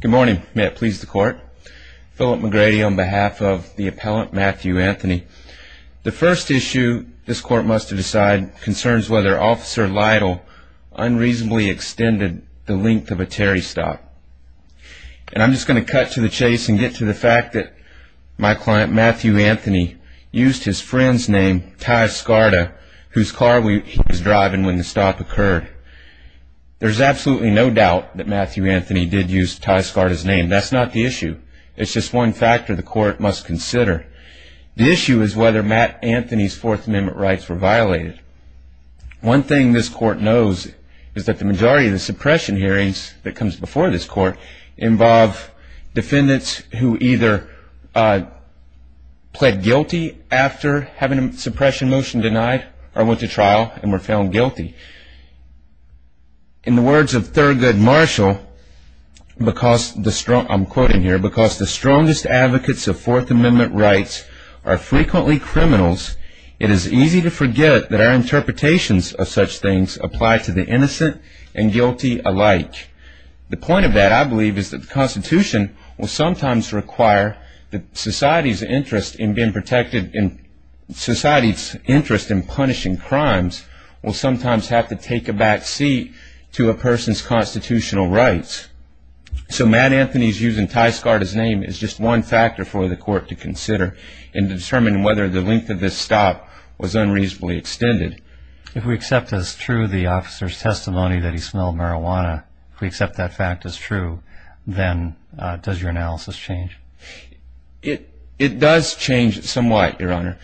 Good morning, may it please the court. Philip McGrady on behalf of the appellant Matthew Anthony. The first issue this court must decide concerns whether officer Lytle unreasonably extended the length of a Terry stop. And I'm just going to cut to the chase and get to the fact that my client Matthew Anthony used his friend's name, Ty Scarta, whose car he was driving when the did use Ty Scarta's name. That's not the issue. It's just one factor the court must consider. The issue is whether Matt Anthony's Fourth Amendment rights were violated. One thing this court knows is that the majority of the suppression hearings that comes before this court involve defendants who either pled guilty after having a suppression motion denied or went to trial and were found guilty. In the words of Thurgood Marshall, I'm quoting here, because the strongest advocates of Fourth Amendment rights are frequently criminals, it is easy to forget that our interpretations of such things apply to the innocent and guilty alike. The point of that, I believe, is that the Constitution will sometimes require that society's interest in being protected, society's interest in punishing crimes will sometimes have to take a back seat to a person's constitutional rights. So Matt Anthony's using Ty Scarta's name is just one factor for the court to consider in determining whether the length of this stop was unreasonably extended. If we accept as true the officer's testimony that he smelled marijuana, if we accept that fact as true, then does your analysis change? It does change somewhat, Your Honor.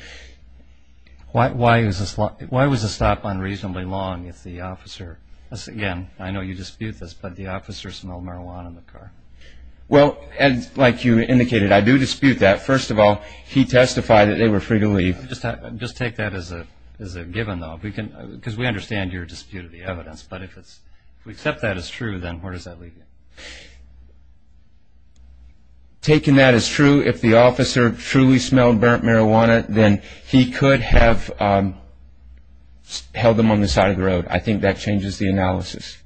Why was the stop unreasonably long if the officer, again, I know you dispute this, but the officer smelled marijuana in the car? Well, like you indicated, I do dispute that. First of all, he testified that they were free to leave. Just take that as a given, though, because we understand your dispute of the evidence. But if we accept that as true, then where does that leave you? Taking that as true, if the officer truly smelled burnt marijuana, then he could have held them on the side of the road. I think that changes the analysis.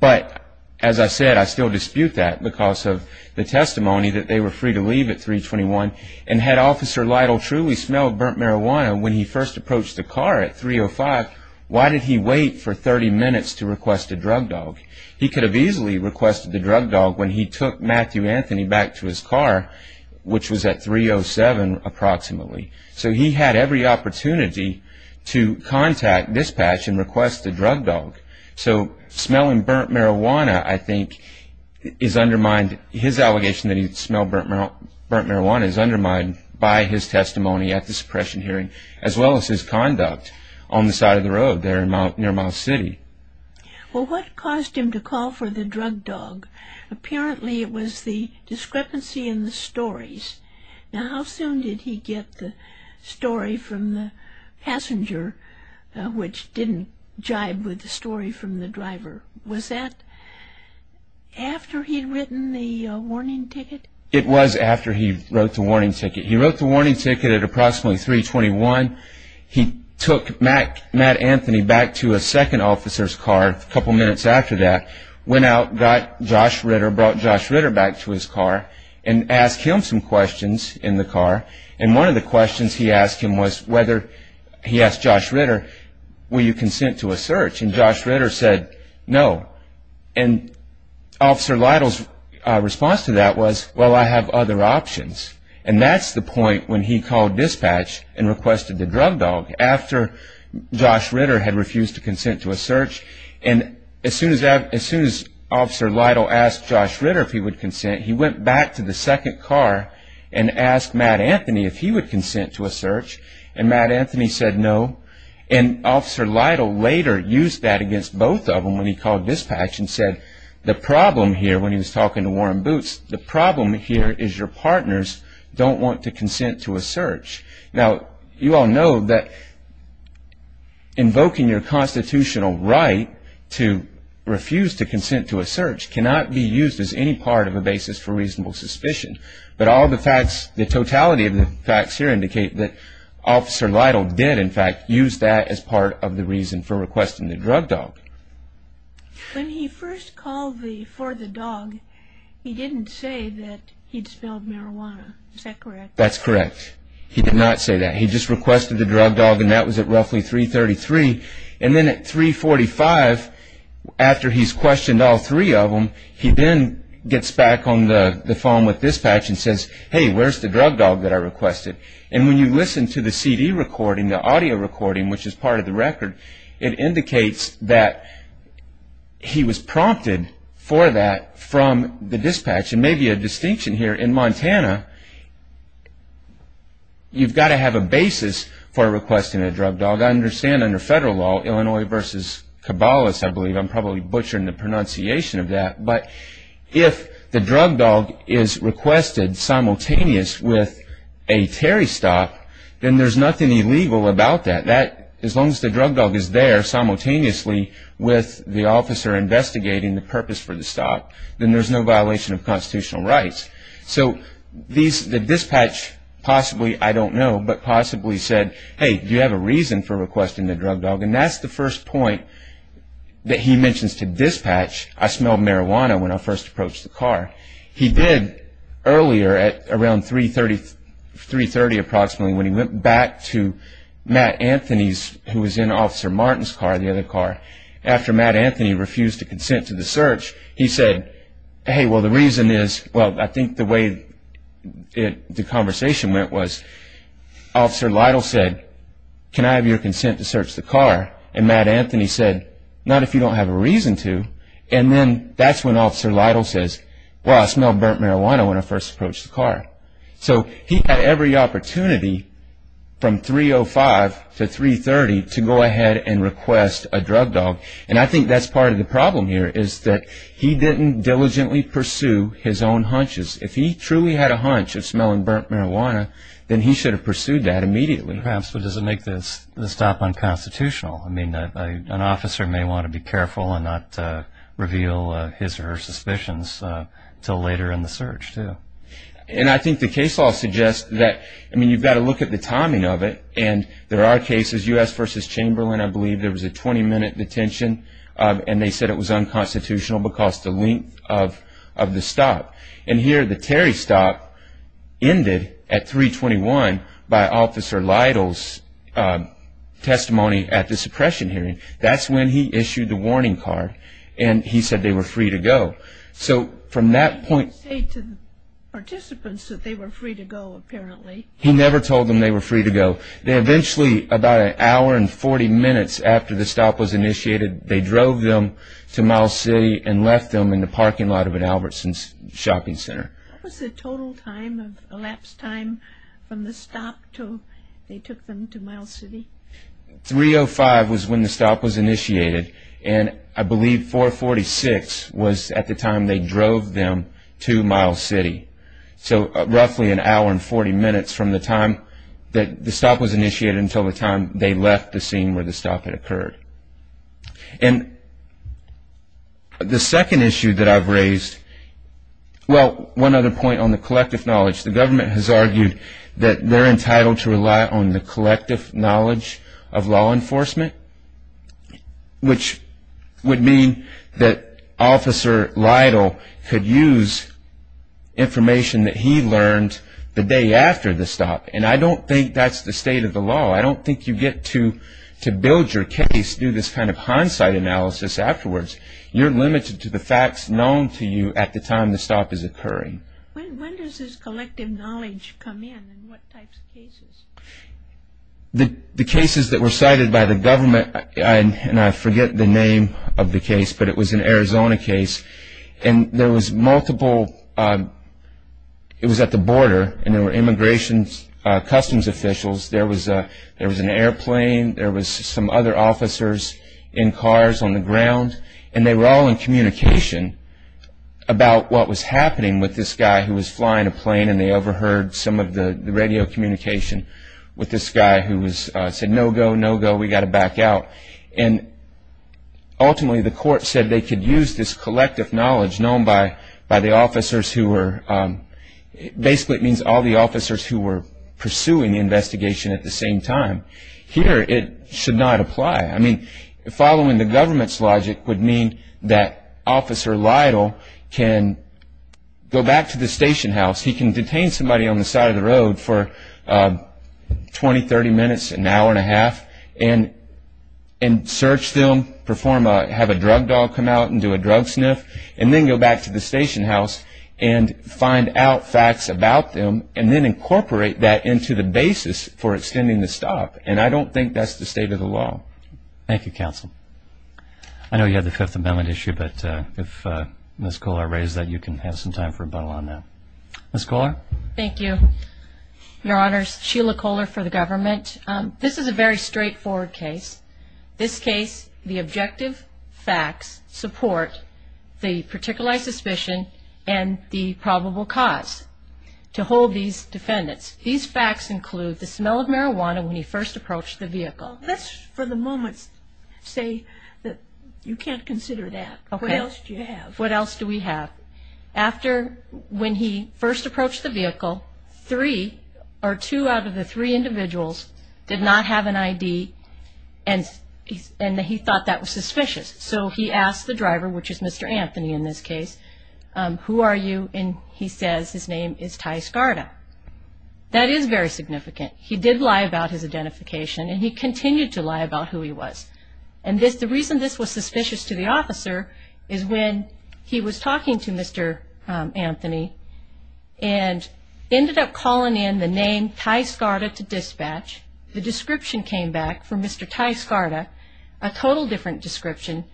But as I said, I still dispute that because of the testimony that they were free to leave at 321. And had Officer Lytle truly smelled burnt marijuana when he first approached the car at 305, why did he wait for 30 minutes to request a drug dog? He could have easily requested the drug dog when he took Matthew Anthony back to his car, which was at 307 approximately. So he had every opportunity to contact, dispatch and request the drug dog. So smelling burnt marijuana, I think, is undermined. His allegation that he smelled burnt marijuana is undermined by his testimony at the suppression hearing, as well as his conduct on the side of the road there near Miles City. Well, what caused him to call for the drug dog? Apparently it was the discrepancy in the stories. Now, how soon did he get the story from the passenger, which didn't jibe with the story from the driver? Was that after he'd written the warning ticket? It was after he wrote the warning ticket. He wrote the warning ticket at approximately 321. He took Matt Anthony back to a second officer's car a couple minutes after that, went out, got Josh Ritter, brought Josh Ritter back to his car and asked him some questions in the car. And one of the questions he asked him was whether he asked Josh Ritter, will you consent to a search? And Josh Ritter said no. And Officer Lytle's response to that was, well, I have other options. And that's the point when he called dispatch and requested the drug dog after Josh Ritter had refused to consent to a search. And as soon as Officer Lytle asked Josh Ritter if he would consent, he went back to the second car and asked Matt Anthony if he would consent to a search. And Matt Anthony said no. And Officer Lytle later used that against both of them when he called dispatch and said, the problem here, when he was talking to Warren Boots, the problem here is your partners don't want to consent to a search. Now, you all know that invoking your constitutional right to refuse to consent to a search cannot be used as any part of a basis for reasonable suspicion. But all the facts, the totality of the facts here indicate that Officer Lytle did, in fact, use that as part of the reason for requesting the drug dog. When he first called the, for the dog, he didn't say that he'd spilled marijuana, is that correct? That's correct. He did not say that. He just requested the drug dog and that was at roughly 333. And then at 345, after he's questioned all three of them, he then gets back on the phone with dispatch and says, hey, where's the drug dog that I requested? And when you listen to the CD recording, the audio recording, which is part of the case, that he was prompted for that from the dispatch, and maybe a distinction here in Montana, you've got to have a basis for requesting a drug dog. I understand under federal law, Illinois versus Cabalas, I believe, I'm probably butchering the pronunciation of that. But if the drug dog is requested simultaneous with a Terry stop, then there's nothing illegal about that. As long as the drug dog is there simultaneously with the officer investigating the purpose for the stop, then there's no violation of constitutional rights. So the dispatch possibly, I don't know, but possibly said, hey, do you have a reason for requesting the drug dog? And that's the first point that he mentions to dispatch. I smelled marijuana when I first approached the car. He did earlier at around 3.30 approximately, when he went back to Matt Anthony's, who was in Officer Martin's car, the other car, after Matt Anthony refused to consent to the search, he said, hey, well, the reason is, well, I think the way the conversation went was Officer Lytle said, can I have your consent to search the car? And Matt Anthony said, not if you don't have a reason to. And then that's when Officer Lytle says, well, I smelled burnt marijuana when I first approached the car. So he had every opportunity from 3.05 to 3.30 to go ahead and request a drug dog. And I think that's part of the problem here, is that he didn't diligently pursue his own hunches. If he truly had a hunch of smelling burnt marijuana, then he should have pursued that immediately. Perhaps, but does it make the stop unconstitutional? I mean, an officer may want to be careful and not reveal his or her suspicions until later in the search, too. And I think the case law suggests that, I mean, you've got to look at the timing of it. And there are cases, U.S. versus Chamberlain, I believe there was a 20 minute detention and they said it was unconstitutional because the length of the stop. And here the Terry stop ended at 3.21 by Officer Lytle's testimony at the suppression hearing. That's when he issued the warning card and he said they were free to go. So from that point, he never told them they were free to go. They eventually, about an hour and 40 minutes after the stop was initiated, they drove them to Miles City and left them in the parking lot of an Albertson's shopping center. What was the total time of elapsed time from the stop till they took them to Miles City? 3.05 was when the stop was initiated. And I believe 4.46 was at the time they drove them to Miles City. So roughly an hour and 40 minutes from the time that the stop was initiated until the time they left the scene where the stop had occurred. And the second issue that I've raised, well, one other point on the collective knowledge, the government has argued that they're entitled to rely on the collective knowledge of law enforcement, which would mean that Officer Lytle could use information that he learned the day after the stop. And I don't think that's the state of the law. I don't think you get to to build your case through this kind of hindsight analysis afterwards. You're limited to the facts known to you at the time the stop is occurring. When does this collective knowledge come in and what types of cases? The cases that were cited by the government, and I forget the name of the case, but it was an Arizona case. And there was multiple, it was at the border and there were Immigration Customs officials. There was there was an airplane. There was some other officers in cars on the ground. And they were all in communication about what was happening with this guy who was flying a plane. And they overheard some of the radio communication with this guy who was said, no, go, no, go. We got to back out. And ultimately, the court said they could use this collective knowledge known by by the officers who were basically it means all the officers who were pursuing the investigation at the same time here, it should not apply. I mean, following the government's logic would mean that Officer Lytle can go back to the station house. He can detain somebody on the side of the road for 20, 30 minutes, an hour and a half and and search them, perform, have a drug dog come out and do a drug sniff and then go back to the station house and find out facts about them and then incorporate that into the basis for extending the stop. And I don't think that's the state of the law. Thank you, counsel. I know you have the Fifth Amendment issue, but if Ms. Kohler raised that, you can have some time for rebuttal on that. Ms. Kohler. Thank you, Your Honors. Sheila Kohler for the government. This is a very straightforward case. This case, the objective facts support the particular suspicion and the probable cause to hold these defendants. These facts include the smell of marijuana when he first approached the vehicle. Let's for the moment say that you can't consider that. What else do you have? What else do we have? After when he first approached the vehicle, three or two out of the three individuals did not have an ID and he thought that was suspicious. So he asked the driver, which is Mr. Anthony in this case, who are you? And he says his name is Ty Scarta. That is very significant. He did lie about his identification and he continued to lie about who he was. And the reason this was suspicious to the officer is when he was talking to Mr. Anthony and ended up calling in the name Ty Scarta to dispatch, the description came back for Mr. Ty Scarta, a total different description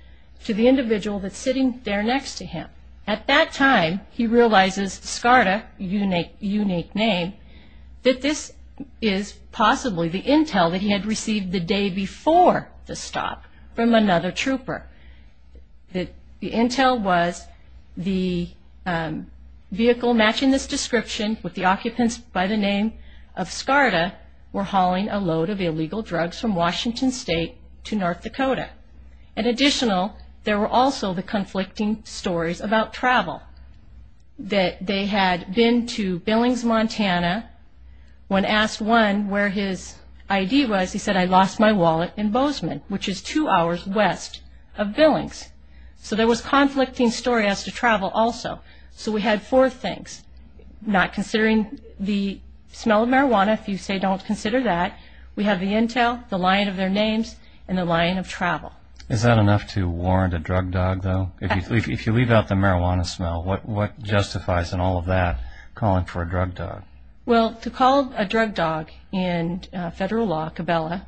to the individual that's sitting there next to him. At that time, he realizes Scarta, unique name, that this is possibly the intel that he had received the day before the stop from another trooper. That the intel was the vehicle matching this description with the occupants by the name of Scarta were hauling a load of illegal drugs from Washington State to North Dakota. In additional, there were also the conflicting stories about travel that they had been to Billings, Montana. When asked one where his ID was, he said, I lost my wallet in Bozeman, which is two hours west of Billings. So there was conflicting story as to travel also. So we had four things, not considering the smell of marijuana, if you say don't consider that, we have the intel, the line of their names and the line of travel. Is that enough to warrant a drug dog though? If you leave out the marijuana smell, what justifies in all of that calling for a drug dog? Well, to call a drug dog in federal law, Cabela,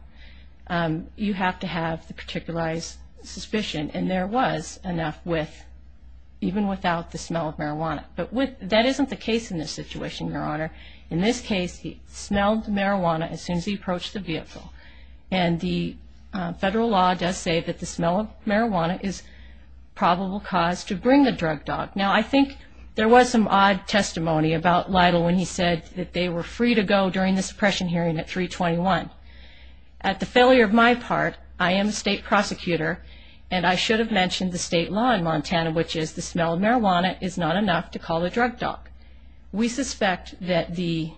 you have to have the particularized suspicion. And there was enough with, even without the smell of marijuana. But that isn't the case in this situation, Your Honor. In this case, he smelled marijuana as soon as he approached the vehicle. And the federal law does say that the smell of marijuana is probable cause to bring the drug dog. Now, I think there was some odd testimony about Lytle when he said that they were free to go during the suppression hearing at 321. At the failure of my part, I am a state prosecutor and I should have mentioned the state law in Montana, which is the smell of marijuana is not enough to call a drug dog. We suspect that the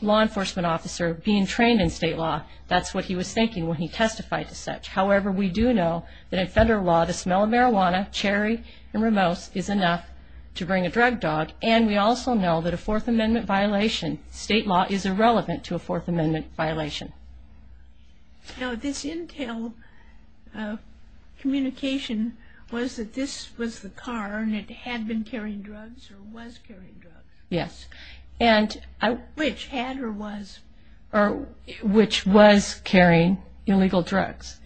law enforcement officer being trained in state law, that's what he was thinking when he testified to such. However, we do know that in federal law, the smell of marijuana, cherry and Ramos, is enough to bring a drug dog. And we also know that a Fourth Amendment violation, state law, is irrelevant to a Fourth Amendment violation. Now, this intel communication was that this was the car and it had been carrying drugs or was carrying drugs. Yes. And which had or was or which was carrying illegal drugs.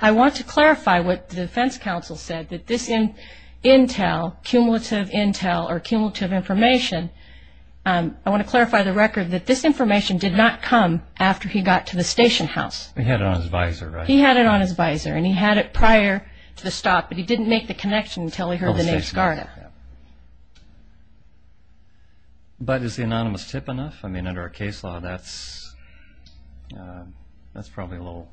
I want to clarify what the defense counsel said that this in intel, cumulative intel or cumulative information. I want to clarify the record that this information did not come after he got to the station house. He had it on his visor. He had it on his visor and he had it prior to the stop, but he didn't make the connection until he heard the name SCARDA. But is the anonymous tip enough? I mean, under our case law, that's that's probably a little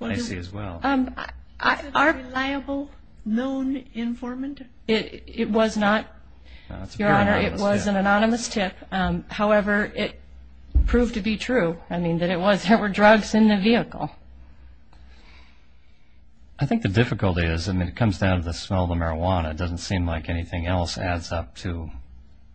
icy as well. Is it a reliable known informant? It was not, Your Honor, it was an anonymous tip. However, it proved to be true. I mean, that it was there were drugs in the vehicle. I think the difficulty is, I mean, it comes down to the smell of the marijuana. It doesn't seem like anything else adds up to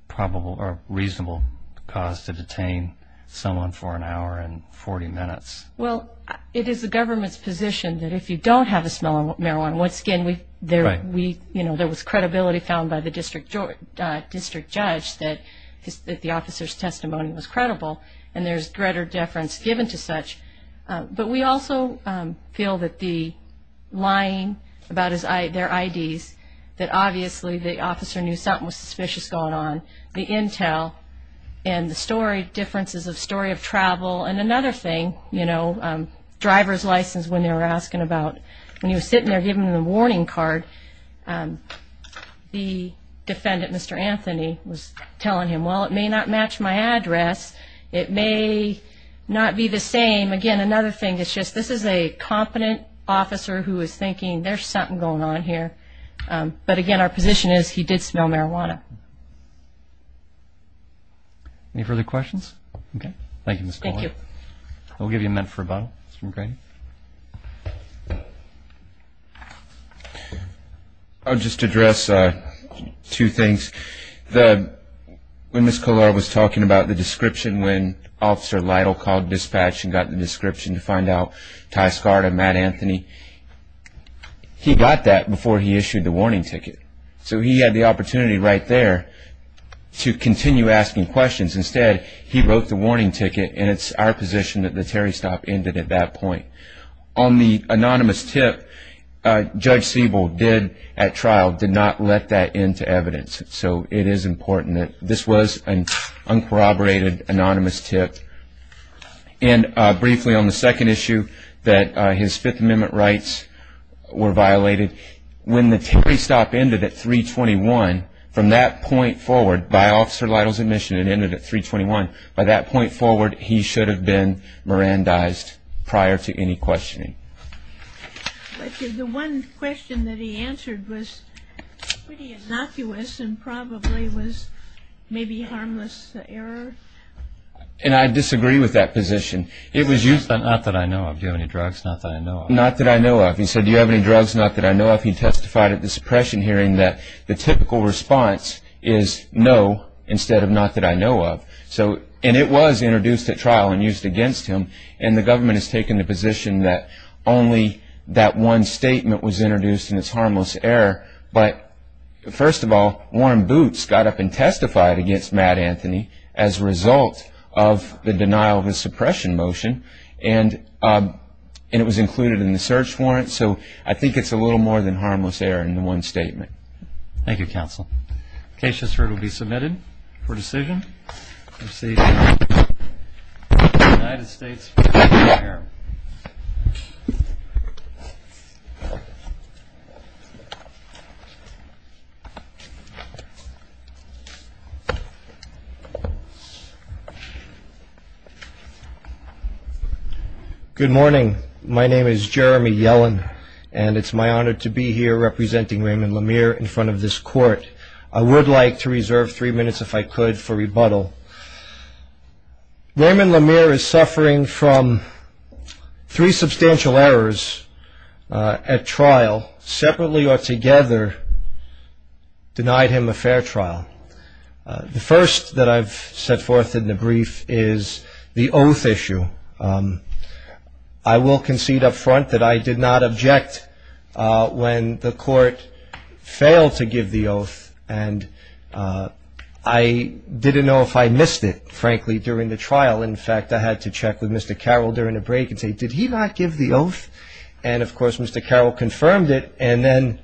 probable or reasonable cause to detain someone for an hour and 40 minutes. Well, it is the government's position that if you don't have a smell of marijuana, once again, we there we you know, there was credibility found by the district district judge that the officer's testimony was credible and there's greater deference given to such. But we also feel that the lying about their IDs, that obviously the officer knew something was suspicious going on, the intel and the story differences of story of travel and another thing, you know, driver's license when they were asking about when he was sitting there giving the warning card, the defendant, Mr. Anthony, was telling him, well, it may not match my address. It may not be the same. Again, another thing is just this is a competent officer who is thinking there's something going on here. But again, our position is he did smell marijuana. Any further questions? Okay. Thank you, Miss. Thank you. I'll give you a minute for a bottle. I'll just address two things. The when Miss Kolar was talking about the description, when Officer Lytle called dispatch and got the description to find out Ty Scarta, Matt Anthony, he got that before he issued the warning ticket. So he had the opportunity right there to continue asking questions. Instead, he wrote the warning ticket. And it's our position that the Terry stop ended at that point. On the anonymous tip, Judge Siebel did at trial did not let that into evidence. So it is important that this was an uncorroborated anonymous tip. And briefly on the second issue that his Fifth Amendment rights were violated. When the Terry stop ended at 321, from that point forward by Officer Lytle's admission, it ended at 321. By that point forward, he should have been Mirandized prior to any questioning. But the one question that he answered was pretty innocuous and probably was maybe harmless error. And I disagree with that position. It was used on, not that I know of. Do you have any drugs? Not that I know of. Not that I know of. He said, do you have any drugs? Not that I know of. He testified at the suppression hearing that the typical response is no, instead of not that I know of. So, and it was introduced at trial and used against him. And the government has taken the position that only that one statement was introduced and it's harmless error. But first of all, Warren Boots got up and testified against Matt Anthony as a result of the denial of his suppression motion. And it was included in the search warrant. So I think it's a little more than harmless error in the one statement. Thank you, counsel. Case just heard will be submitted for decision. United States. Good morning. My name is Jeremy Yellen and it's my honor to be here representing Raymond Lemire in front of this court. I would like to reserve three minutes if I could for rebuttal. Raymond Lemire is suffering from three substantial errors at trial, separately or together, denied him a fair trial. The first that I've set forth in the brief is the oath issue. I will concede upfront that I did not object when the court failed to give the oath and I didn't know if I missed it, frankly, during the trial. In fact, I had to check with Mr. Carroll during the break and say, did he not give the oath? And of course, Mr. Carroll confirmed it. And then.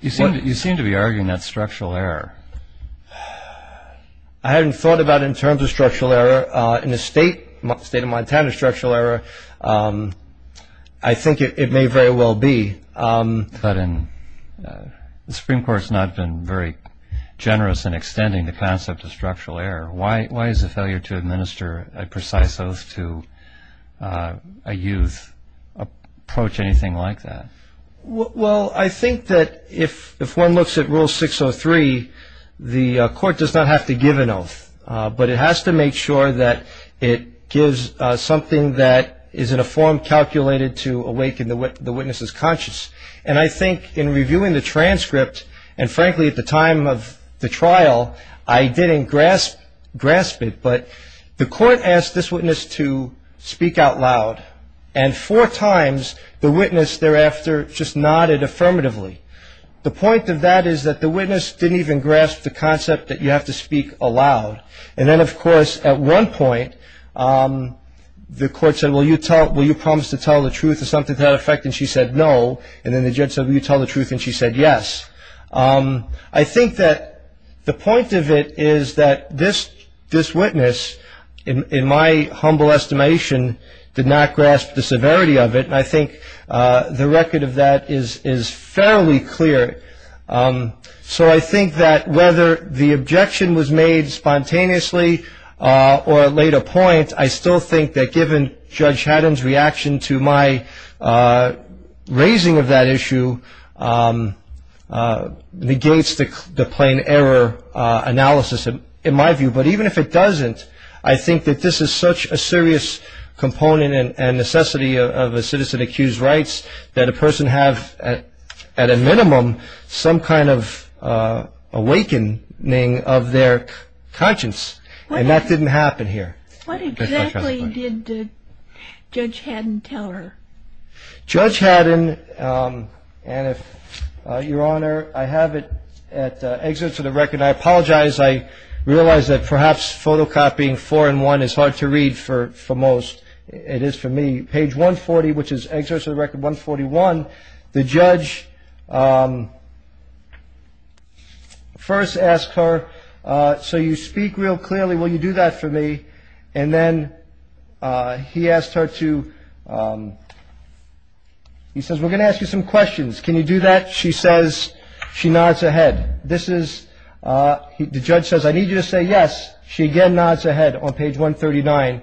You seem to be arguing that structural error. I hadn't thought about it in terms of structural error in the state, state of Montana, structural error. I think it may very well be. But in the Supreme Court has not been very generous in extending the concept of structural error. Why, why is the failure to administer a precise oath to a youth approach anything like that? Well, I think that if, if one looks at rule 603, the court does not have to give an oath, but it has to make sure that it gives something that is in a form calculated to awaken the witness's conscience. And I think in reviewing the transcript and frankly, at the time of the trial, I didn't grasp, grasp it, but the court asked this witness to speak out loud. And four times the witness thereafter just nodded affirmatively. The point of that is that the witness didn't even grasp the concept that you have to speak aloud. And then of course, at one point the court said, well, you tell, will you promise to tell the truth or something to that effect? And she said, no. And then the judge said, will you tell the truth? And she said, yes. I think that the point of it is that this, this witness in my humble estimation did not grasp the severity of it. And I think the record of that is, is fairly clear. So I think that whether the objection was made spontaneously or at later point, I still think that given Judge Haddam's reaction to my raising of that issue, negates the plain error analysis in my view. But even if it doesn't, I think that this is such a serious component and necessity of a citizen accused rights that a person have at a minimum, some kind of awakening of their conscience. And that didn't happen here. What exactly did Judge Haddam tell her? Judge Haddam, and if Your Honor, I have it at the exit to the record. I apologize. I realized that perhaps photocopying four in one is hard to read for most. It is for me. Page 140, which is excerpts of the record 141. The judge first asked her, so you speak real clearly. Will you do that for me? And then he asked her to, he says, we're going to ask you some questions. Can you do that? She says, she nods her head. This is, the judge says, I need you to say yes. She again nods her head on page 139.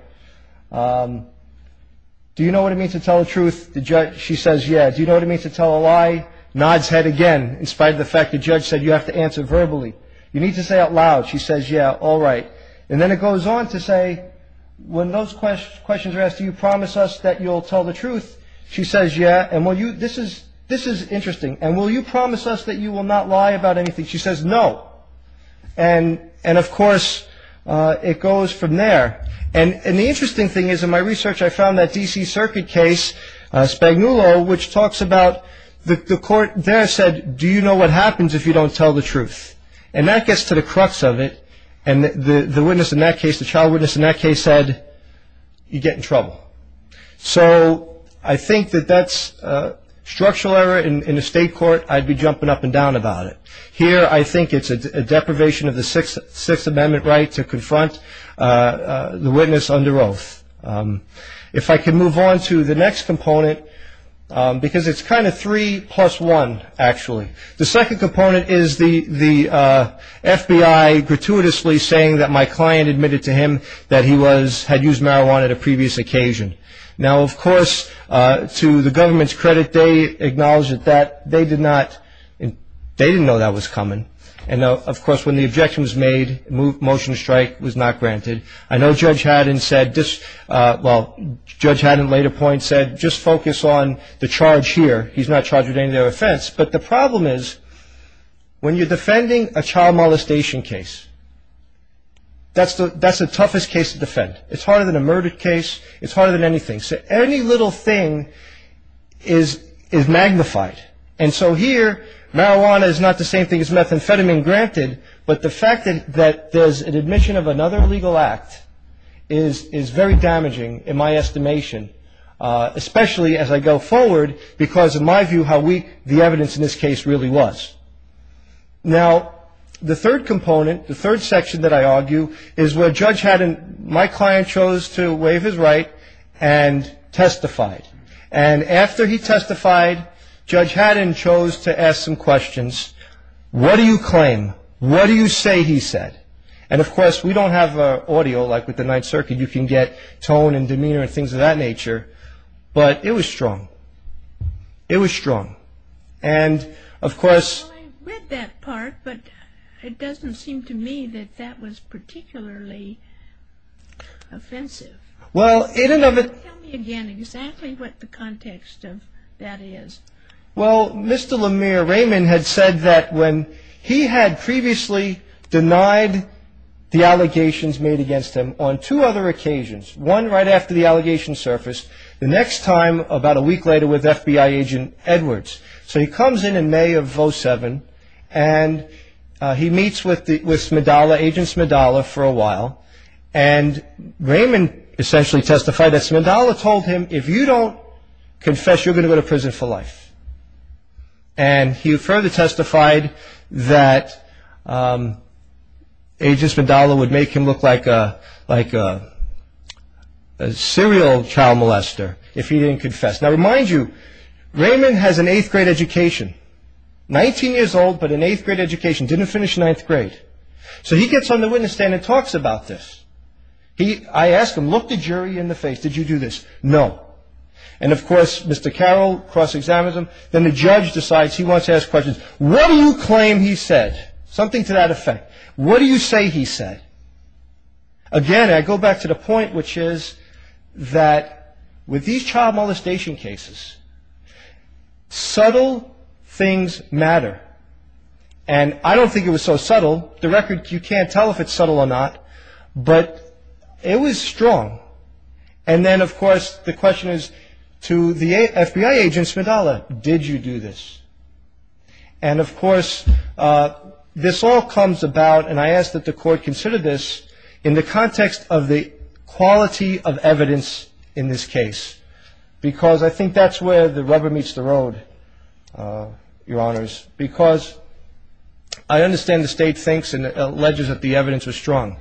Do you know what it means to tell the truth? The judge, she says, yeah. Do you know what it means to tell a lie? Nods head again, in spite of the fact the judge said you have to answer verbally. You need to say out loud. She says, yeah, all right. And then it goes on to say, when those questions are asked, do you promise us that you'll tell the truth? She says, yeah. And will you, this is, this is interesting. And will you promise us that you will not lie about anything? She says, no. And, and of course, it goes from there. And the interesting thing is in my research, I found that DC Circuit case, Spagnuolo, which talks about the court there said, do you know what happens if you don't tell the truth? And that gets to the crux of it. And the witness in that case, the trial witness in that case said, you get in trouble. So I think that that's a structural error in the state court. I'd be jumping up and down about it. Here, I think it's a deprivation of the Sixth Amendment right to confront the witness under oath. If I can move on to the next component, because it's kind of three plus one, actually. The second component is the FBI gratuitously saying that my client admitted to him that he was, had used marijuana at a previous occasion. Now, of course, to the government's credit, they acknowledged that they did not, they didn't know that was coming. And of course, when the objection was made, motion to strike was not granted. I know Judge Haddon said, well, Judge Haddon at a later point said, just focus on the charge here. He's not charged with any other offense. But the problem is, when you're defending a child molestation case, that's the toughest case to defend. It's harder than a murder case. It's harder than anything. So any little thing is magnified. And so here, marijuana is not the same thing as methamphetamine granted. But the fact that there's an admission of another illegal act is very damaging in my estimation, especially as I go forward. Because in my view, how weak the evidence in this case really was. Now, the third component, the third section that I argue is where Judge Haddon, my client chose to waive his right and testified. And after he testified, Judge Haddon chose to ask some questions. What do you claim? What do you say he said? And of course, we don't have audio like with the Ninth Circuit. You can get tone and demeanor and things of that nature. But it was strong. It was strong. And of course... Well, I read that part, but it doesn't seem to me that that was particularly offensive. Well, in and of it... Tell me again exactly what the context of that is. Well, Mr. Lemire Raymond had said that when he had previously denied the allegations made against him on two other occasions, one right after the allegations surfaced, the next time about a week later with FBI agent Edwards. So he comes in in May of 07 and he meets with Agent Smidala for a while. And Raymond essentially testified that Smidala told him, if you don't confess, you're going to go to prison for life. And he further testified that Agent Smidala would make him look like a serial child molester if he didn't confess. Now, I remind you, Raymond has an eighth grade education, 19 years old, but an eighth grade education. Didn't finish ninth grade. So he gets on the witness stand and talks about this. I asked him, look the jury in the face. Did you do this? No. And of course, Mr. Carroll cross examines him. Then the judge decides he wants to ask questions. What do you claim he said? Something to that effect. What do you say he said? Again, I go back to the point, which is that with these child molestation cases, subtle things matter. And I don't think it was so subtle. The record, you can't tell if it's subtle or not, but it was strong. And then, of course, the question is to the FBI agent, Smidala, did you do this? And of course, this all comes about, and I ask that the court consider this in the context of the quality of evidence in this case. Because I think that's where the rubber meets the road, Your Honors. Because I understand the state thinks and alleges that the evidence was strong.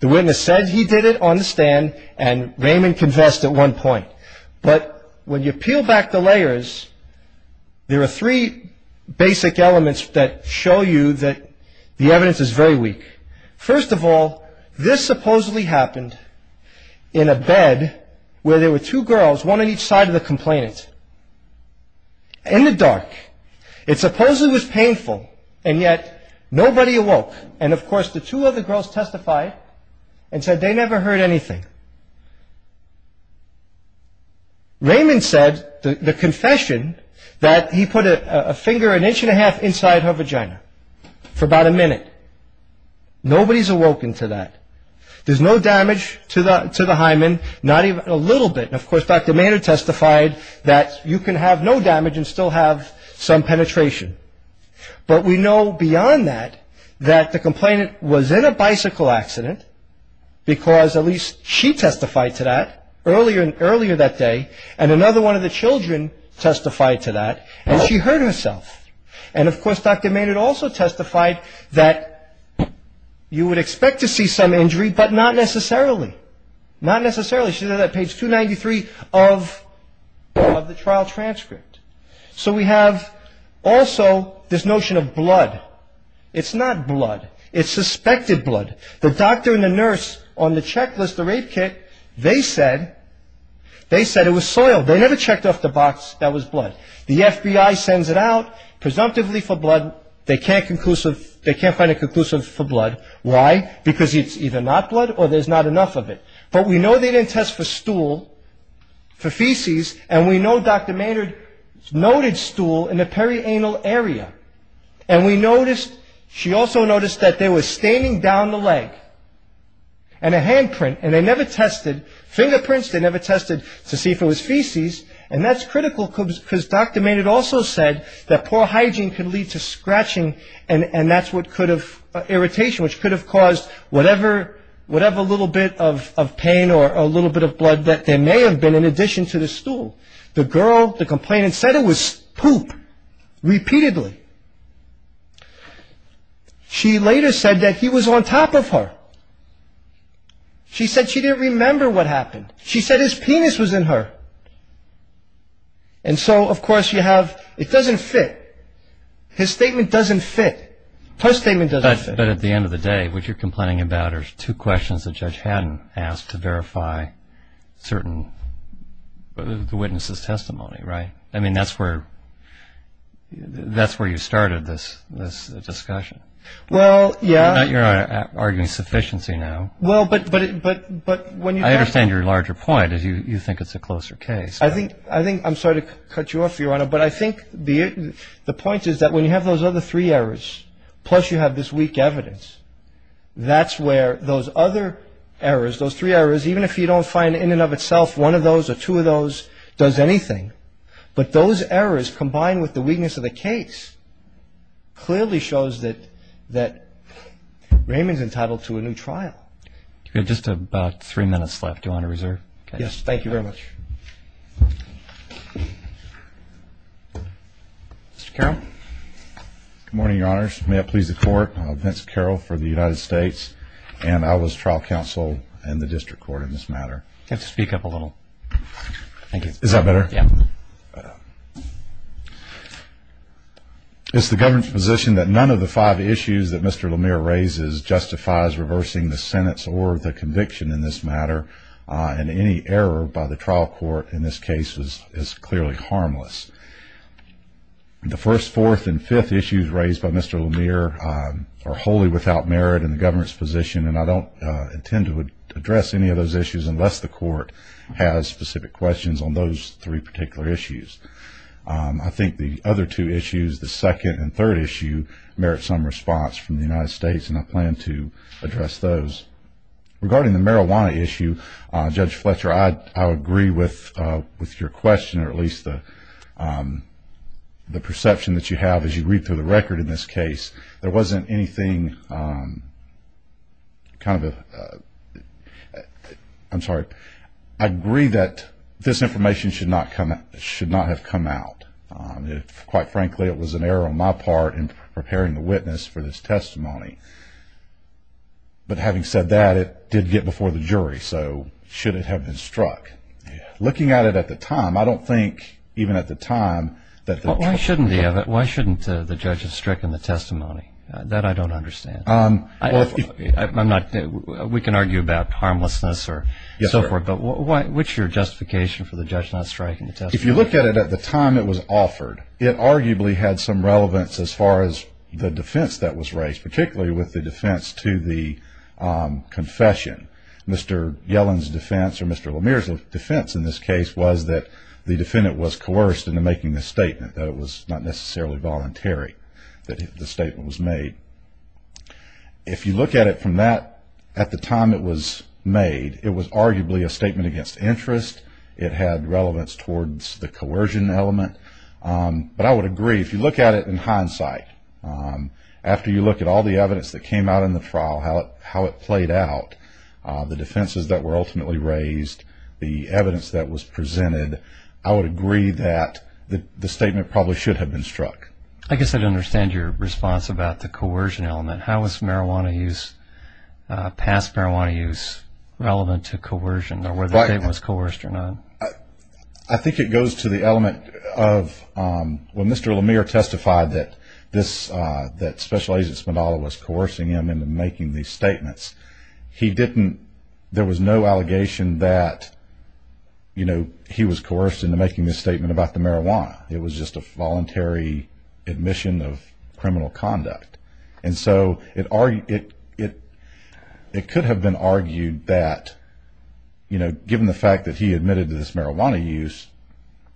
The witness said he did it on the stand, and Raymond confessed at one point. But when you peel back the layers, there are three basic elements that show you that the evidence is very weak. First of all, this supposedly happened in a bed where there were two girls, one on each side of the complainant, in the dark. It supposedly was painful, and yet nobody awoke. And of course, the two other girls testified and said they never heard anything. Raymond said, the confession, that he put a finger an inch and a half inside her vagina for about a minute. Nobody's awoken to that. There's no damage to the hymen, not even a little bit. Of course, Dr. Maynard testified that you can have no damage and still have some penetration. But we know beyond that, that the complainant was in a bicycle accident, because at least she testified to that earlier that day. And another one of the children testified to that, and she hurt herself. And of course, Dr. Maynard also testified that you would expect to see some injury, but not necessarily. Not necessarily. She said that on page 293 of the trial transcript. So we have also this notion of blood. It's not blood. It's suspected blood. The doctor and the nurse on the checklist, the rape kit, they said it was soil. They never checked off the box that was blood. The FBI sends it out presumptively for blood. They can't find a conclusive for blood. Why? Because it's either not blood or there's not enough of it. But we know they didn't test for stool, for feces, and we know Dr. Maynard noted stool in the perianal area. And we noticed, she also noticed that there was staining down the leg and a handprint. And they never tested fingerprints. They never tested to see if it was feces. And that's critical because Dr. Maynard also said that poor hygiene could lead to scratching. And that's what could have irritation, which could have caused whatever little bit of pain or a little bit of blood that there may have been in addition to the stool. The girl, the complainant, said it was poop repeatedly. She later said that he was on top of her. She said she didn't remember what happened. She said his penis was in her. And so, of course, you have, it doesn't fit. His statement doesn't fit. Her statement doesn't fit. But at the end of the day, what you're complaining about are two questions the judge hadn't asked to verify certain, the witness's testimony, right? I mean, that's where, that's where you started this, this discussion. Well, yeah. You're arguing sufficiency now. Well, but, but, but, but when you. I understand your larger point is you think it's a closer case. I think, I think, I'm sorry to cut you off, Your Honor. But I think the point is that when you have those other three errors, plus you have this weak evidence, that's where those other errors, those three errors, even if you don't find in and of itself one of those or two of those does anything. But those errors combined with the weakness of the case clearly shows that, that Raymond's entitled to a new trial. Just about three minutes left, Your Honor, reserve. Yes, thank you very much. Mr. Carroll. Good morning, Your Honors. May it please the court. I'm Vince Carroll for the United States, and I was trial counsel in the district court in this matter. You have to speak up a little. Thank you. Is that better? Yeah. It's the government's position that none of the five issues that Mr. Lemire raises justifies reversing the sentence or the conviction in this matter. Uh, and any error by the trial court in this case was, is clearly harmless. The first, fourth, and fifth issues raised by Mr. Lemire, um, are wholly without merit in the government's position. And I don't intend to address any of those issues unless the court has specific questions on those three particular issues. Um, I think the other two issues, the second and third issue merit some response from the United States and I plan to address those. Regarding the marijuana issue, uh, Judge Fletcher, I, I agree with, uh, with your question or at least the, um, the perception that you have as you read through the record in this case, there wasn't anything, um, kind of a, uh, I'm sorry. I agree that this information should not come, should not have come out. Um, quite frankly, it was an error on my part in preparing the witness for this testimony. But having said that it did get before the jury, so should it have been struck? Looking at it at the time, I don't think even at the time that the... Why shouldn't he have it? Why shouldn't the judge have stricken the testimony? Uh, that I don't understand. Um, I'm not, we can argue about harmlessness or so forth, but why, what's your justification for the judge not striking the testimony? If you look at it at the time it was offered, it arguably had some relevance as far as the defense that was raised, particularly with the defense to the, um, confession. Mr. Yellen's defense or Mr. Lemire's defense in this case was that the defendant was coerced into making this statement, that it was not necessarily voluntary that the statement was made. If you look at it from that, at the time it was made, it was arguably a statement against interest. It had relevance towards the coercion element. Um, but I would agree if you look at it in hindsight, um, after you look at all the evidence that came out in the trial, how it, how it played out. Uh, the defenses that were ultimately raised, the evidence that was presented, I would agree that the, the statement probably should have been struck. I guess I'd understand your response about the coercion element. How was marijuana use, uh, past marijuana use relevant to coercion or whether it was coerced or not? I think it goes to the element of, um, when Mr. Lemire testified that this, uh, that Special Agent Spindola was coercing him into making these statements. He didn't, there was no allegation that, you know, he was coerced into making this statement about the marijuana. It was just a voluntary admission of criminal conduct. And so it, it, it, it could have been argued that, you know, given the fact that he admitted to this marijuana use,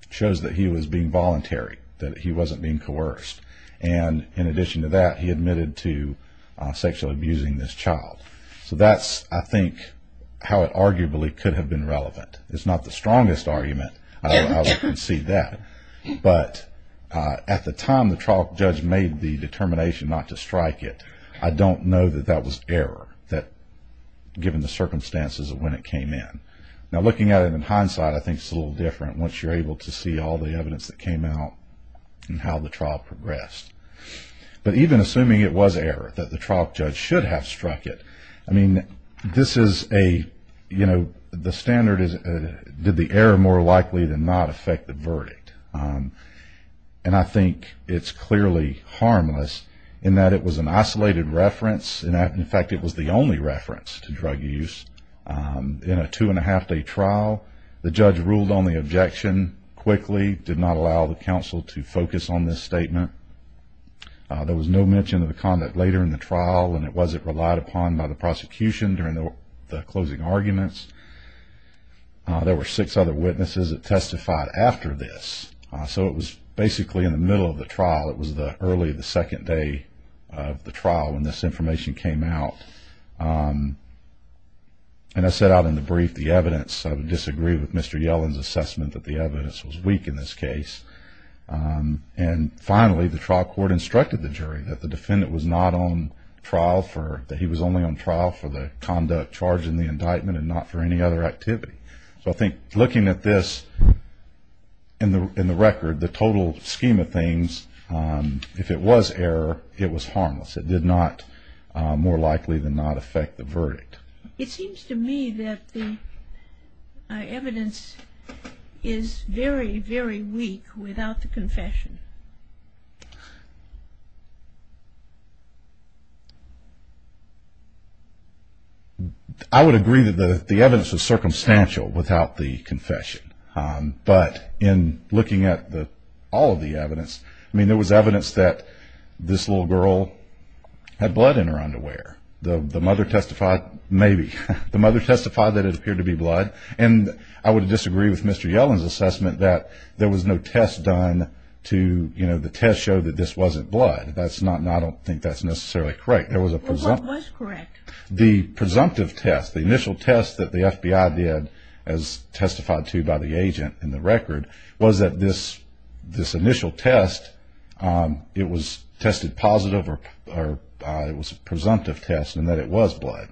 shows that he was being voluntary, that he wasn't being coerced. And in addition to that, he admitted to, uh, sexually abusing this child. So that's, I think, how it arguably could have been relevant. It's not the strongest argument, I would concede that. But, uh, at the time the trial judge made the determination not to strike it, I don't know that that was error that, given the circumstances of when it came in. Now looking at it in hindsight, I think it's a little different once you're able to see all the evidence that came out and how the trial progressed. But even assuming it was error, that the trial judge should have struck it, I mean, this is a, you know, the standard is, uh, did the error more likely than not affect the verdict? Um, and I think it's clearly harmless in that it was an isolated reference, in fact it was the only reference to drug use. Um, in a two and a half day trial, the judge ruled on the objection quickly, did not allow the counsel to focus on this statement. Uh, there was no mention of the conduct later in the trial, and it wasn't relied upon by the prosecution during the closing arguments. Uh, there were six other witnesses that testified after this. Uh, so it was basically in the middle of the trial, it was the early, the second day of the trial when this information came out. Um, and I said out in the brief, the evidence, I would disagree with Mr. Yellen's assessment that the evidence was weak in this case. Um, and finally, the trial court instructed the jury that the defendant was not on trial for, that he was only on trial for the conduct charged in the indictment and not for any other activity. So I think looking at this, in the record, the total scheme of things, um, if it was error, it was harmless. It did not, uh, more likely than not affect the verdict. It seems to me that the evidence is very, very weak without the confession. I would agree that the evidence was circumstantial without the confession. Um, but in looking at the, all of the evidence, I mean, there was evidence that this little girl had blood in her underwear. The, the mother testified, maybe, the mother testified that it appeared to be blood. And I would disagree with Mr. Yellen's assessment that there was no test done to, you know, the test showed that this wasn't blood. That's not, and I don't think that's necessarily correct. There was a presumptive, the presumptive test, the initial test that the FBI did as testified to by the agent in the record was that this, this initial test, um, it was tested positive or, or, uh, it was presumptive. Test and that it was blood.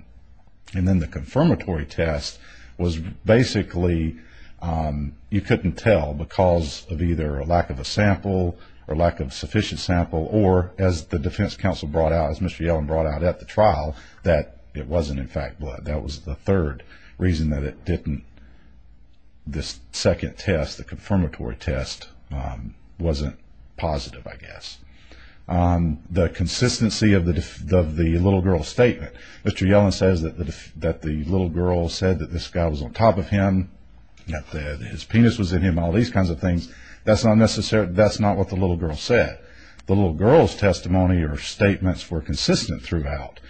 And then the confirmatory test was basically, um, you couldn't tell because of either a lack of a sample or lack of sufficient sample, or as the defense council brought out, as Mr. Yellen brought out at the trial, that it wasn't in fact blood. That was the third reason that it didn't, this second test, the confirmatory test, um, wasn't positive, I guess. Um, the consistency of the, of the little girl's statement, Mr. Yellen says that the, that the little girl said that this guy was on top of him, that his penis was in him, all these kinds of things. That's not necessarily, that's not what the little girl said. The little girl's testimony or statements were consistent throughout.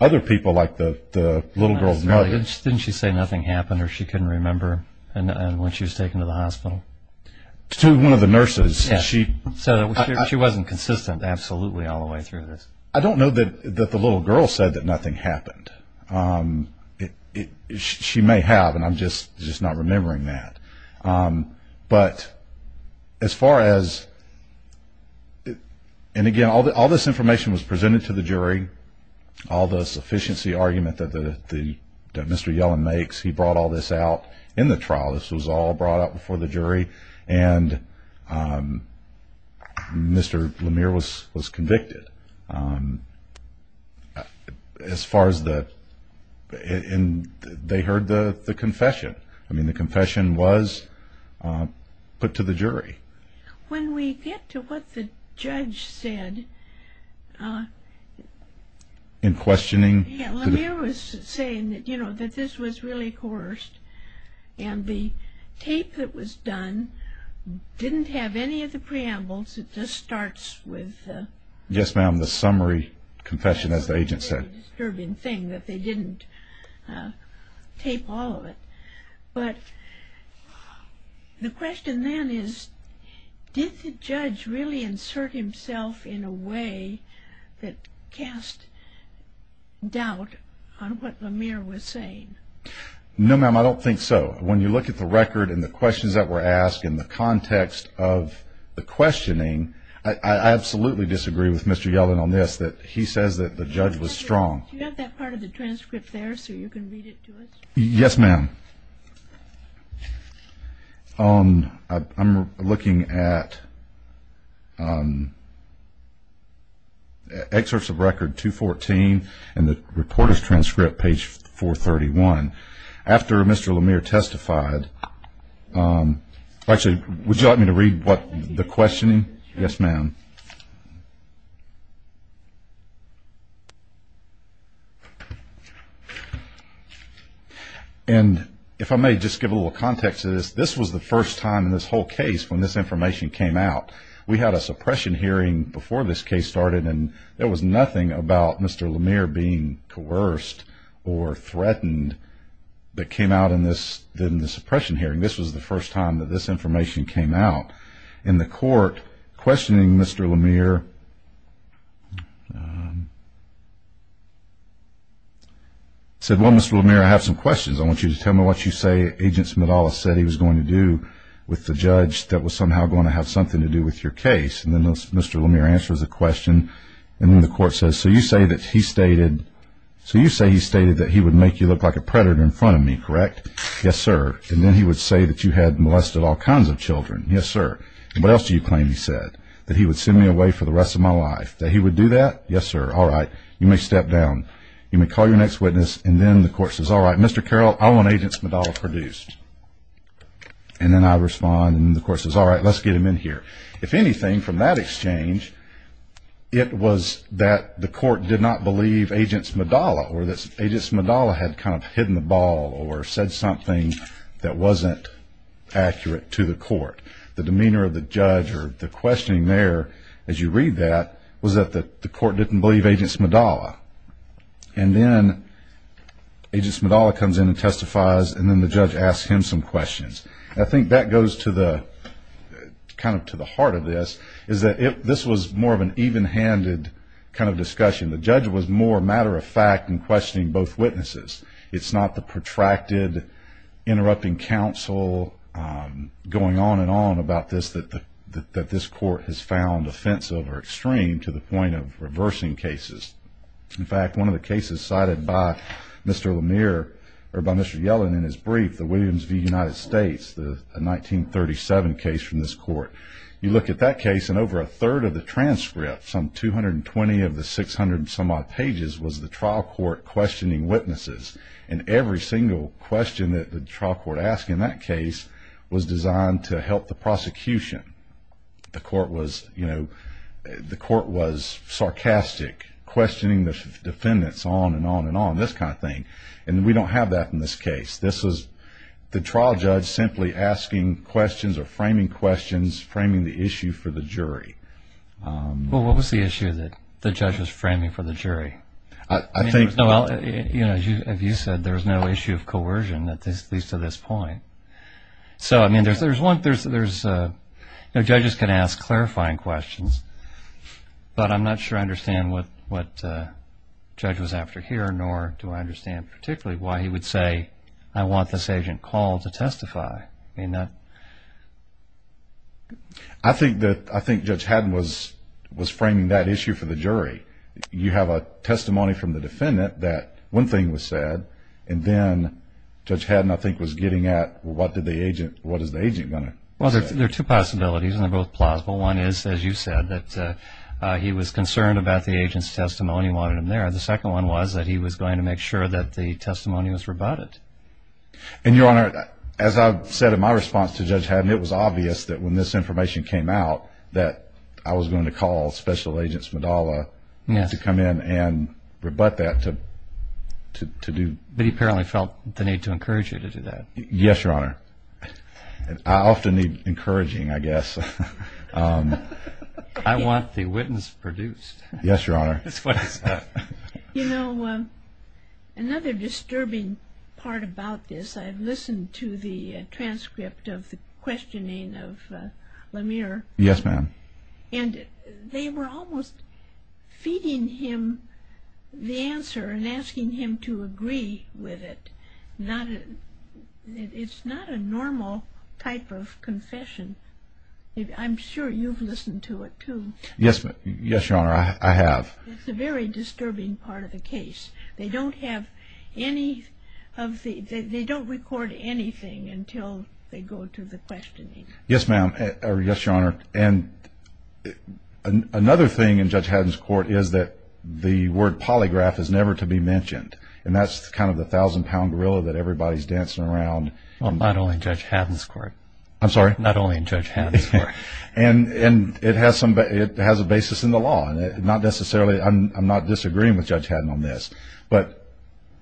Other people like the, the little girl's mother. Didn't she say nothing happened or she couldn't remember when she was taken to the hospital? To one of the nurses. So she wasn't consistent. Absolutely. All the way through this. I don't know that, that the little girl said that nothing happened. Um, it, it, she may have, and I'm just, just not remembering that. Um, but as far as, and again, all the, all this information was presented to the jury, all the sufficiency argument that the, the, that Mr. Yellen makes, he brought all this out in the trial. This was all brought up before the jury. And, um, Mr. Lemire was, was convicted, um, as far as the, and they heard the, the confession. I mean, the confession was, um, put to the jury. When we get to what the judge said, uh. In questioning. Yeah. Lemire was saying that, you know, that this was really coerced. And the tape that was done didn't have any of the preambles. It just starts with, uh. Yes, ma'am. The summary confession, as the agent said. It's a very disturbing thing that they didn't, uh, tape all of it. But the question then is, did the judge really insert himself in a way that cast doubt on what Lemire was saying? No, ma'am. I don't think so. When you look at the record and the questions that were asked in the context of the questioning, I absolutely disagree with Mr. Yellen on this, that he says that the judge was strong. Do you have that part of the transcript there so you can read it to us? Yes, ma'am. Um, I, I'm looking at, um, excerpts of record 214 and the reporter's transcript page 431. After Mr. Lemire testified, um, actually, would you like me to read what the questioning? Yes, ma'am. And if I may just give a little context to this, this was the first time in this whole case when this information came out, we had a suppression hearing before this case started. And there was nothing about Mr. Lemire being coerced or threatened that came out in this, in the suppression hearing. This was the first time that this information came out in the court questioning Mr. Lemire, um, said, well, Mr. Lemire, I have some questions. I want you to tell me what you say. Agent Smetala said he was going to do with the judge that was somehow going to have something to do with your case. And then Mr. Lemire answers the question. And then the court says, so you say that he stated, so you say he stated that he would make you look like a predator in front of me, correct? Yes, sir. And then he would say that you had molested all kinds of children. Yes, sir. And what else do you claim? He said that he would send me away for the rest of my life, that he would do that. Yes, sir. All right. You may step down. You may call your next witness. And then the court says, all right, Mr. Carroll, I want agents produced. And then I respond and the court says, all right, let's get him in here. If anything, from that exchange, it was that the court did not believe agents Medalla or this agent's Medalla had kind of hidden the ball or said something that wasn't accurate to the court. The demeanor of the judge or the questioning there, as you read that, was that the court didn't believe agents Medalla. And then agents Medalla comes in and testifies. And then the judge asked him some questions. I think that goes to the kind of to the heart of this is that this was more of an even handed kind of discussion. The judge was more matter of fact in questioning both witnesses. It's not the protracted interrupting counsel going on and on about this that this court has found offensive or extreme to the point of reversing cases. In fact, one of the cases cited by Mr. Lemire or by Mr. Yellen in his brief, the Williams v. United States, the 1937 case from this court. You look at that case and over a third of the transcript, some 220 of the 600 some odd pages, was the trial court questioning witnesses. And every single question that the trial court asked in that case was designed to help the prosecution. The court was, you know, the court was sarcastic, questioning the defendants on and on and on, this kind of thing. And we don't have that in this case. This is the trial judge simply asking questions or framing questions, framing the issue for the jury. Well, what was the issue that the judge was framing for the jury? I think, Noel, you know, as you said, there was no issue of coercion at least to this point. So, I mean, there's there's one there's there's no judges can ask clarifying questions, but I'm not sure I understand what what judge was after here, nor do I understand particularly why he would say, I want this agent called to testify in that. I think that I think Judge Haddon was was framing that issue for the jury. You have a testimony from the defendant that one thing was said. And then Judge Haddon, I think, was getting at what did the agent what is the agent going to. Well, there are two possibilities, and they're both plausible. One is, as you said, that he was concerned about the agent's testimony, wanted him there. The second one was that he was going to make sure that the testimony was rebutted. And, Your Honor, as I said in my response to Judge Haddon, it was obvious that when this information came out that I was going to call Special Agent Smadala to come in and rebut that to to do. But he apparently felt the need to encourage you to do that. Yes, Your Honor. I often need encouraging, I guess. I want the witness produced. Yes, Your Honor. You know, another disturbing part about this, I've listened to the transcript of the questioning of LaMere. Yes, ma'am. And they were almost feeding him the answer and asking him to agree with it. Now, it's not a normal type of confession. I'm sure you've listened to it, too. Yes. Yes, Your Honor, I have. It's a very disturbing part of the case. They don't have any of the they don't record anything until they go to the questioning. Yes, ma'am. Yes, Your Honor. And another thing in Judge Haddon's court is that the word polygraph is never to be mentioned. And that's kind of the thousand pound gorilla that everybody's dancing around. Well, not only in Judge Haddon's court. I'm sorry? Not only in Judge Haddon's court. And it has a basis in the law and not necessarily I'm not disagreeing with Judge Haddon on this. But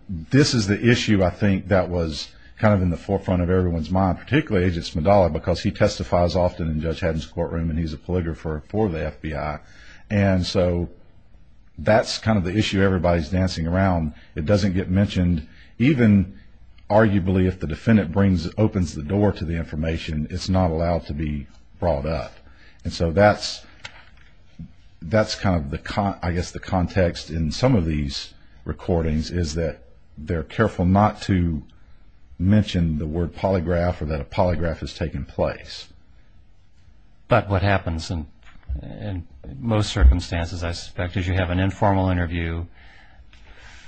this is the issue, I think, that was kind of in the forefront of everyone's mind, particularly Agent Smadala, because he testifies often in Judge Haddon's courtroom and he's a polygrapher for the FBI. And so that's kind of the issue everybody's dancing around. It doesn't get mentioned. Even arguably, if the defendant brings opens the door to the information, it's not allowed to be brought up. And so that's that's kind of the I guess the context in some of these recordings is that they're careful not to mention the word polygraph has taken place. But what happens in most circumstances, I suspect, is you have an informal interview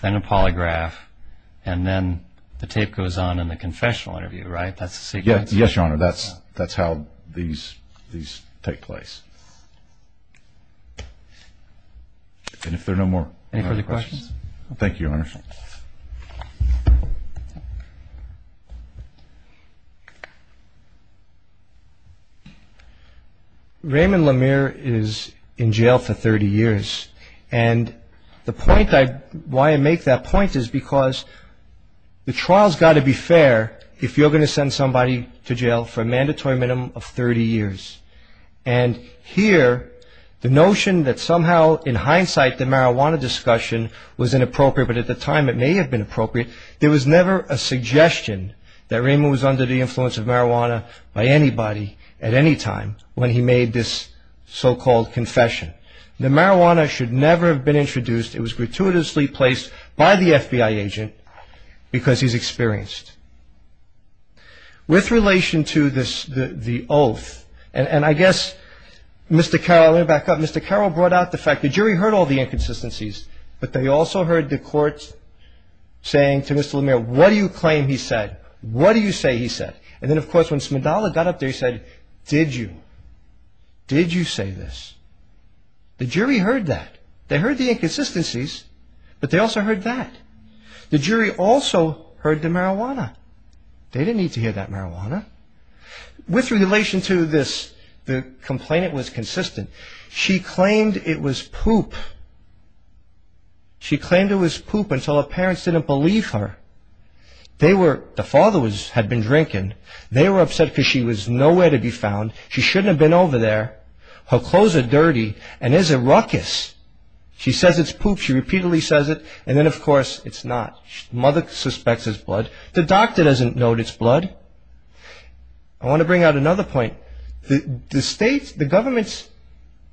and a polygraph and then the tape goes on in the confessional interview, right? That's the secret. Yes, Your Honor. That's that's how these these take place. And if there are no more. Any further questions? Thank you, Your Honor. Raymond Lemire is in jail for 30 years, and the point why I make that point is because the trial's got to be fair if you're going to send somebody to jail for a mandatory minimum of 30 years. And here, the notion that somehow, in hindsight, the marijuana discussion was inappropriate, but at the time it may have been a suggestion that Raymond was under the influence of marijuana by anybody at any time when he made this so-called confession. The marijuana should never have been introduced. It was gratuitously placed by the FBI agent because he's experienced. With relation to this, the oath, and I guess, Mr. Carroll, let me back up. Mr. Carroll brought out the fact the jury heard all the inconsistencies. But they also heard the court saying to Mr. Lemire, what do you claim he said? What do you say he said? And then, of course, when Smidala got up there, he said, did you? Did you say this? The jury heard that. They heard the inconsistencies, but they also heard that. The jury also heard the marijuana. They didn't need to hear that marijuana. With relation to this, the complainant was consistent. She claimed it was poop. She claimed it was poop until her parents didn't believe her. The father had been drinking. They were upset because she was nowhere to be found. She shouldn't have been over there. Her clothes are dirty and it's a ruckus. She says it's poop. She repeatedly says it. And then, of course, it's not. Mother suspects it's blood. The doctor doesn't note it's blood. I want to bring out another point. The state, the government's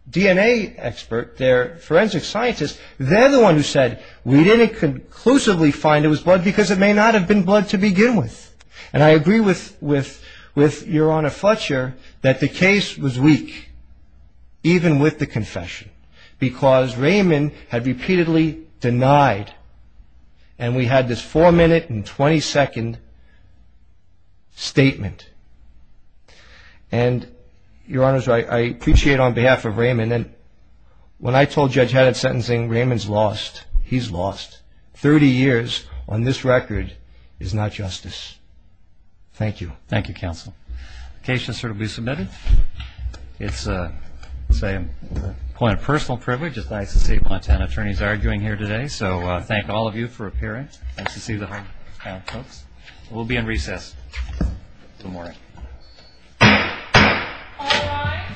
DNA expert, their forensic scientist, they're the one who said we didn't conclusively find it was blood because it may not have been blood to begin with. And I agree with Your Honor Fletcher that the case was weak, even with the confession, because Raymond had repeatedly denied. And we had this four-minute and 20-second statement. And Your Honor, I appreciate on behalf of Raymond. And when I told Judge Haddard's sentencing, Raymond's lost. He's lost. 30 years on this record is not justice. Thank you. Thank you, counsel. The case has certainly been submitted. It's a, let's say, quite a personal privilege. It's nice to see a bunch of attorneys arguing here today. So thank all of you for appearing. Nice to see the whole town, folks. We'll be in recess. Good morning. All rise.